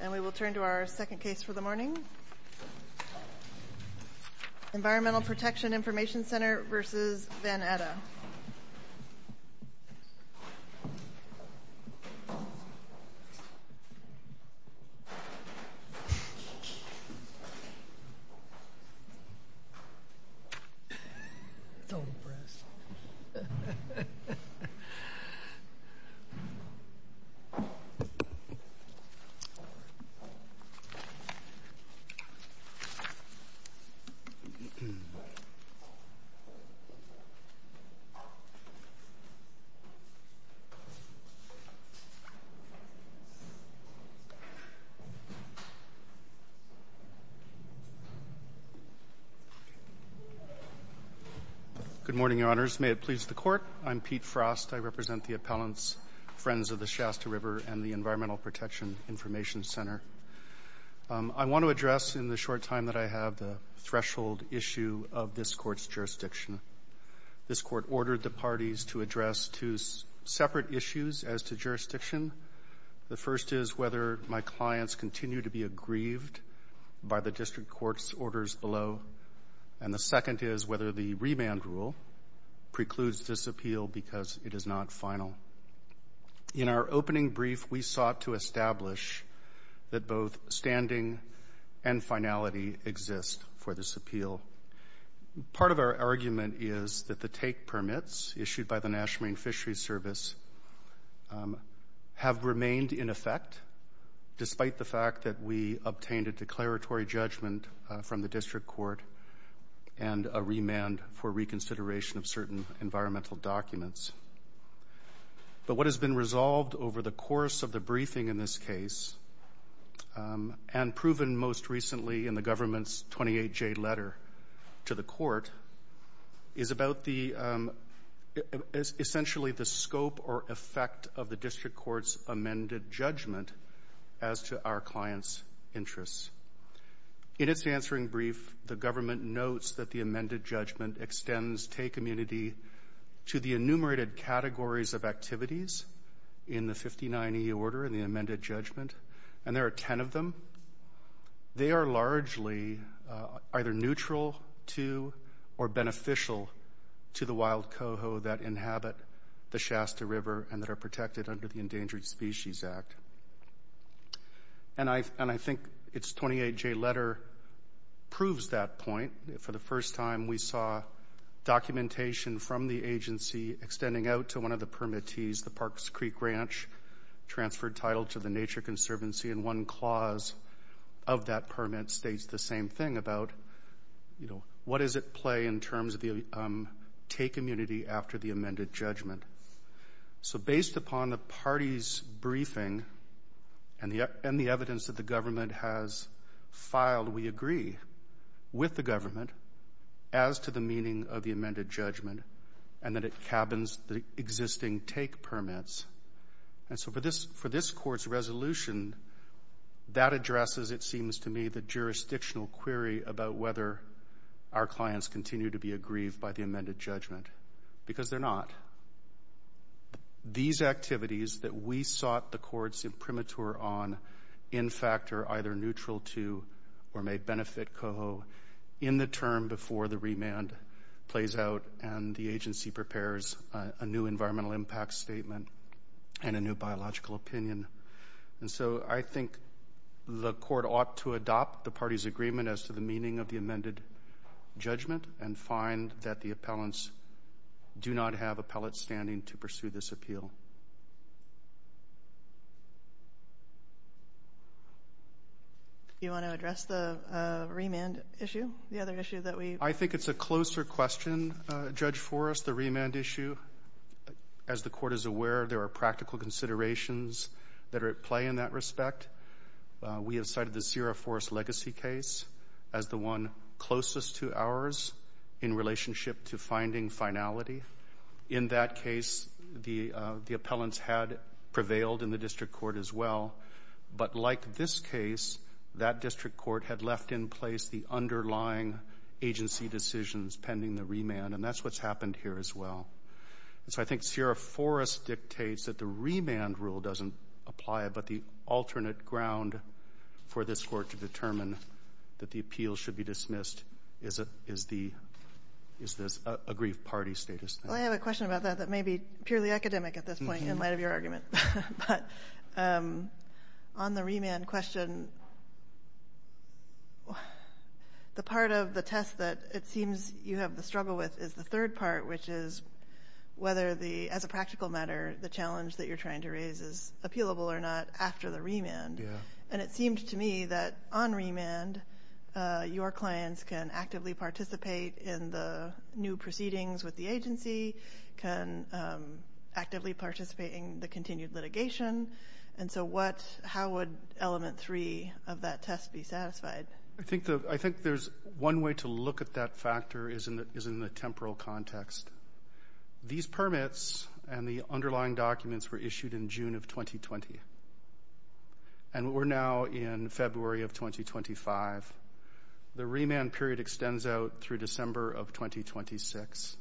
And we will turn to our second case for the morning. Environmental Protection Information Center v. van Atta. Good morning, Your Honors. May it please the Court. I'm Pete Frost. I represent the appellants, Friends of the Shasta River, and the Environmental Protection Information Center. I want to address in the short time that I have the threshold issue of this Court's jurisdiction. This Court ordered the parties to address two separate issues as to jurisdiction. The first is whether my clients continue to be aggrieved by the District Court's orders below. And the second is whether the remand rule precludes this appeal because it is not final. In our opening brief, we sought to establish that both standing and finality exist for this appeal. Part of our argument is that the take permits issued by the National Marine Fisheries Service have remained in effect despite the fact that we obtained a declaratory judgment from the District Court and a remand for reconsideration of certain environmental documents. But what has been resolved over the course of the briefing in this case and proven most recently in the government's 28-J letter to the Court is about essentially the scope or effect of the District Court's amended judgment as to our clients' interests. In its answering brief, the government notes that the amended judgment extends take immunity to the enumerated categories of activities in the 59E order in the amended judgment, and there are 10 of them. They are largely either neutral to or beneficial to the wild coho that inhabit the Shasta River and that are protected under the Endangered Species Act. And I think its 28-J letter proves that point. For the first time, we saw documentation from the agency extending out to one of the permittees, the Parks Creek Ranch, transferred title to the Nature Conservancy, and one clause of that permit states the same thing about, you know, what does it play in terms of the take immunity after the amended judgment. So based upon the party's briefing and the evidence that the government has filed, we agree with the government as to the meaning of the amended judgment and that it cabins the existing take permits. And so for this Court's resolution, that addresses, it seems to me, the jurisdictional query about whether our clients continue to be aggrieved by the amended judgment, because they're not. These activities that we sought the Court's imprimatur on, in fact, are either neutral to or may benefit coho in the term before the remand plays out and the agency prepares a new environmental impact statement and a new biological opinion. And so I think the Court ought to adopt the party's agreement as to the meaning of the do not have appellate standing to pursue this appeal. Do you want to address the remand issue, the other issue that we... I think it's a closer question, Judge Forrest, the remand issue. As the Court is aware, there are practical considerations that are at play in that respect. We have cited the Sierra Forest legacy case as the one closest to ours in relationship to finding finality. In that case, the appellants had prevailed in the district court as well, but like this case, that district court had left in place the underlying agency decisions pending the remand, and that's what's happened here as well. And so I think Sierra Forest dictates that the remand rule doesn't apply, but the alternate Well, I have a question about that that may be purely academic at this point in light of your argument. But on the remand question, the part of the test that it seems you have the struggle with is the third part, which is whether, as a practical matter, the challenge that you're trying to raise is appealable or not after the remand. And it seemed to me that on remand, your clients can actively participate in the new proceedings with the agency, can actively participate in the continued litigation. And so how would element three of that test be satisfied? I think there's one way to look at that factor is in the temporal context. These permits and the underlying documents were issued in June of 2020, and we're now in February of 2025. The remand period extends out through December of 2026.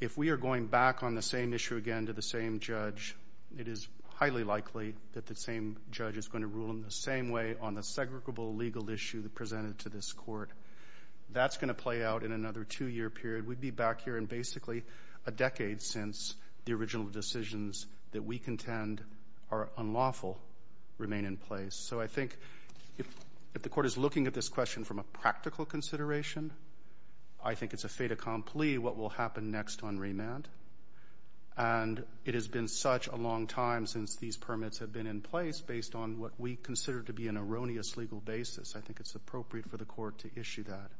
If we are going back on the same issue again to the same judge, it is highly likely that the same judge is going to rule in the same way on the segregable legal issue that presented to this court. That's going to play out in another two-year period. We'd be back here in basically a decade since the original decisions that we contend are unlawful remain in place. So I think if the court is looking at this question from a practical consideration, I think it's a fait accompli what will happen next on remand. And it has been such a long time since these permits have been in place based on what we consider to be an erroneous legal basis. I think it's appropriate for the court to issue that.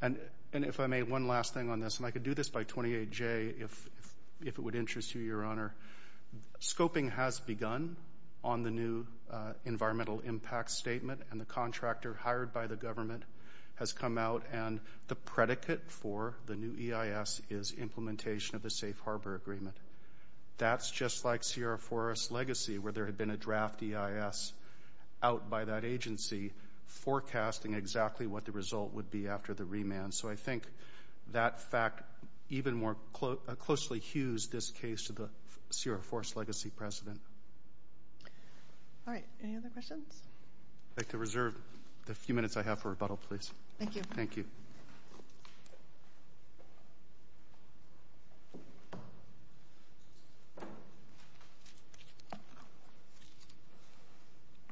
And if I may, one last thing on this, and I could do this by 28-J if it would interest you, Your Honor. Scoping has begun on the new environmental impact statement, and the contractor hired by the government has come out, and the predicate for the new EIS is implementation of the Safe Harbor Agreement. That's just like Sierra Forest Legacy, where there had been a draft EIS out by that agency forecasting exactly what the result would be after the remand. So I think that fact even more closely hues this case to the Sierra Forest Legacy precedent. All right. Any other questions? I'd like to reserve the few minutes I have for rebuttal, please. Thank you. Thank you.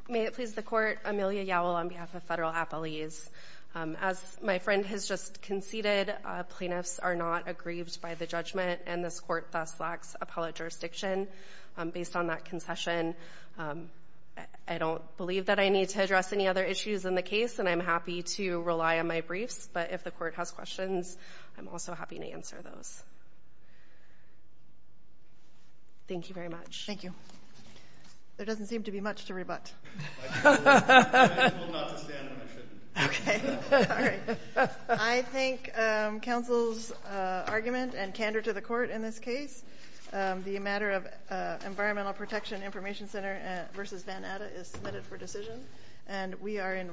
May it please the Court. Amelia Yowell on behalf of Federal Appellees. As my friend has just conceded, plaintiffs are not aggrieved by the judgment, and this Court thus lacks appellate jurisdiction. Based on that concession, I don't believe that I need to address any other issues in the case, and I'm happy to rely on my briefs. But if the Court has questions, I'm also happy to answer those. Thank you very much. Thank you. There doesn't seem to be much to rebut. I will not stand when I shouldn't. Okay. All right. I thank counsel's argument and candor to the Court in this case. The matter of Environmental Protection Information Center v. Van Atta is submitted for decision, and we are in recess.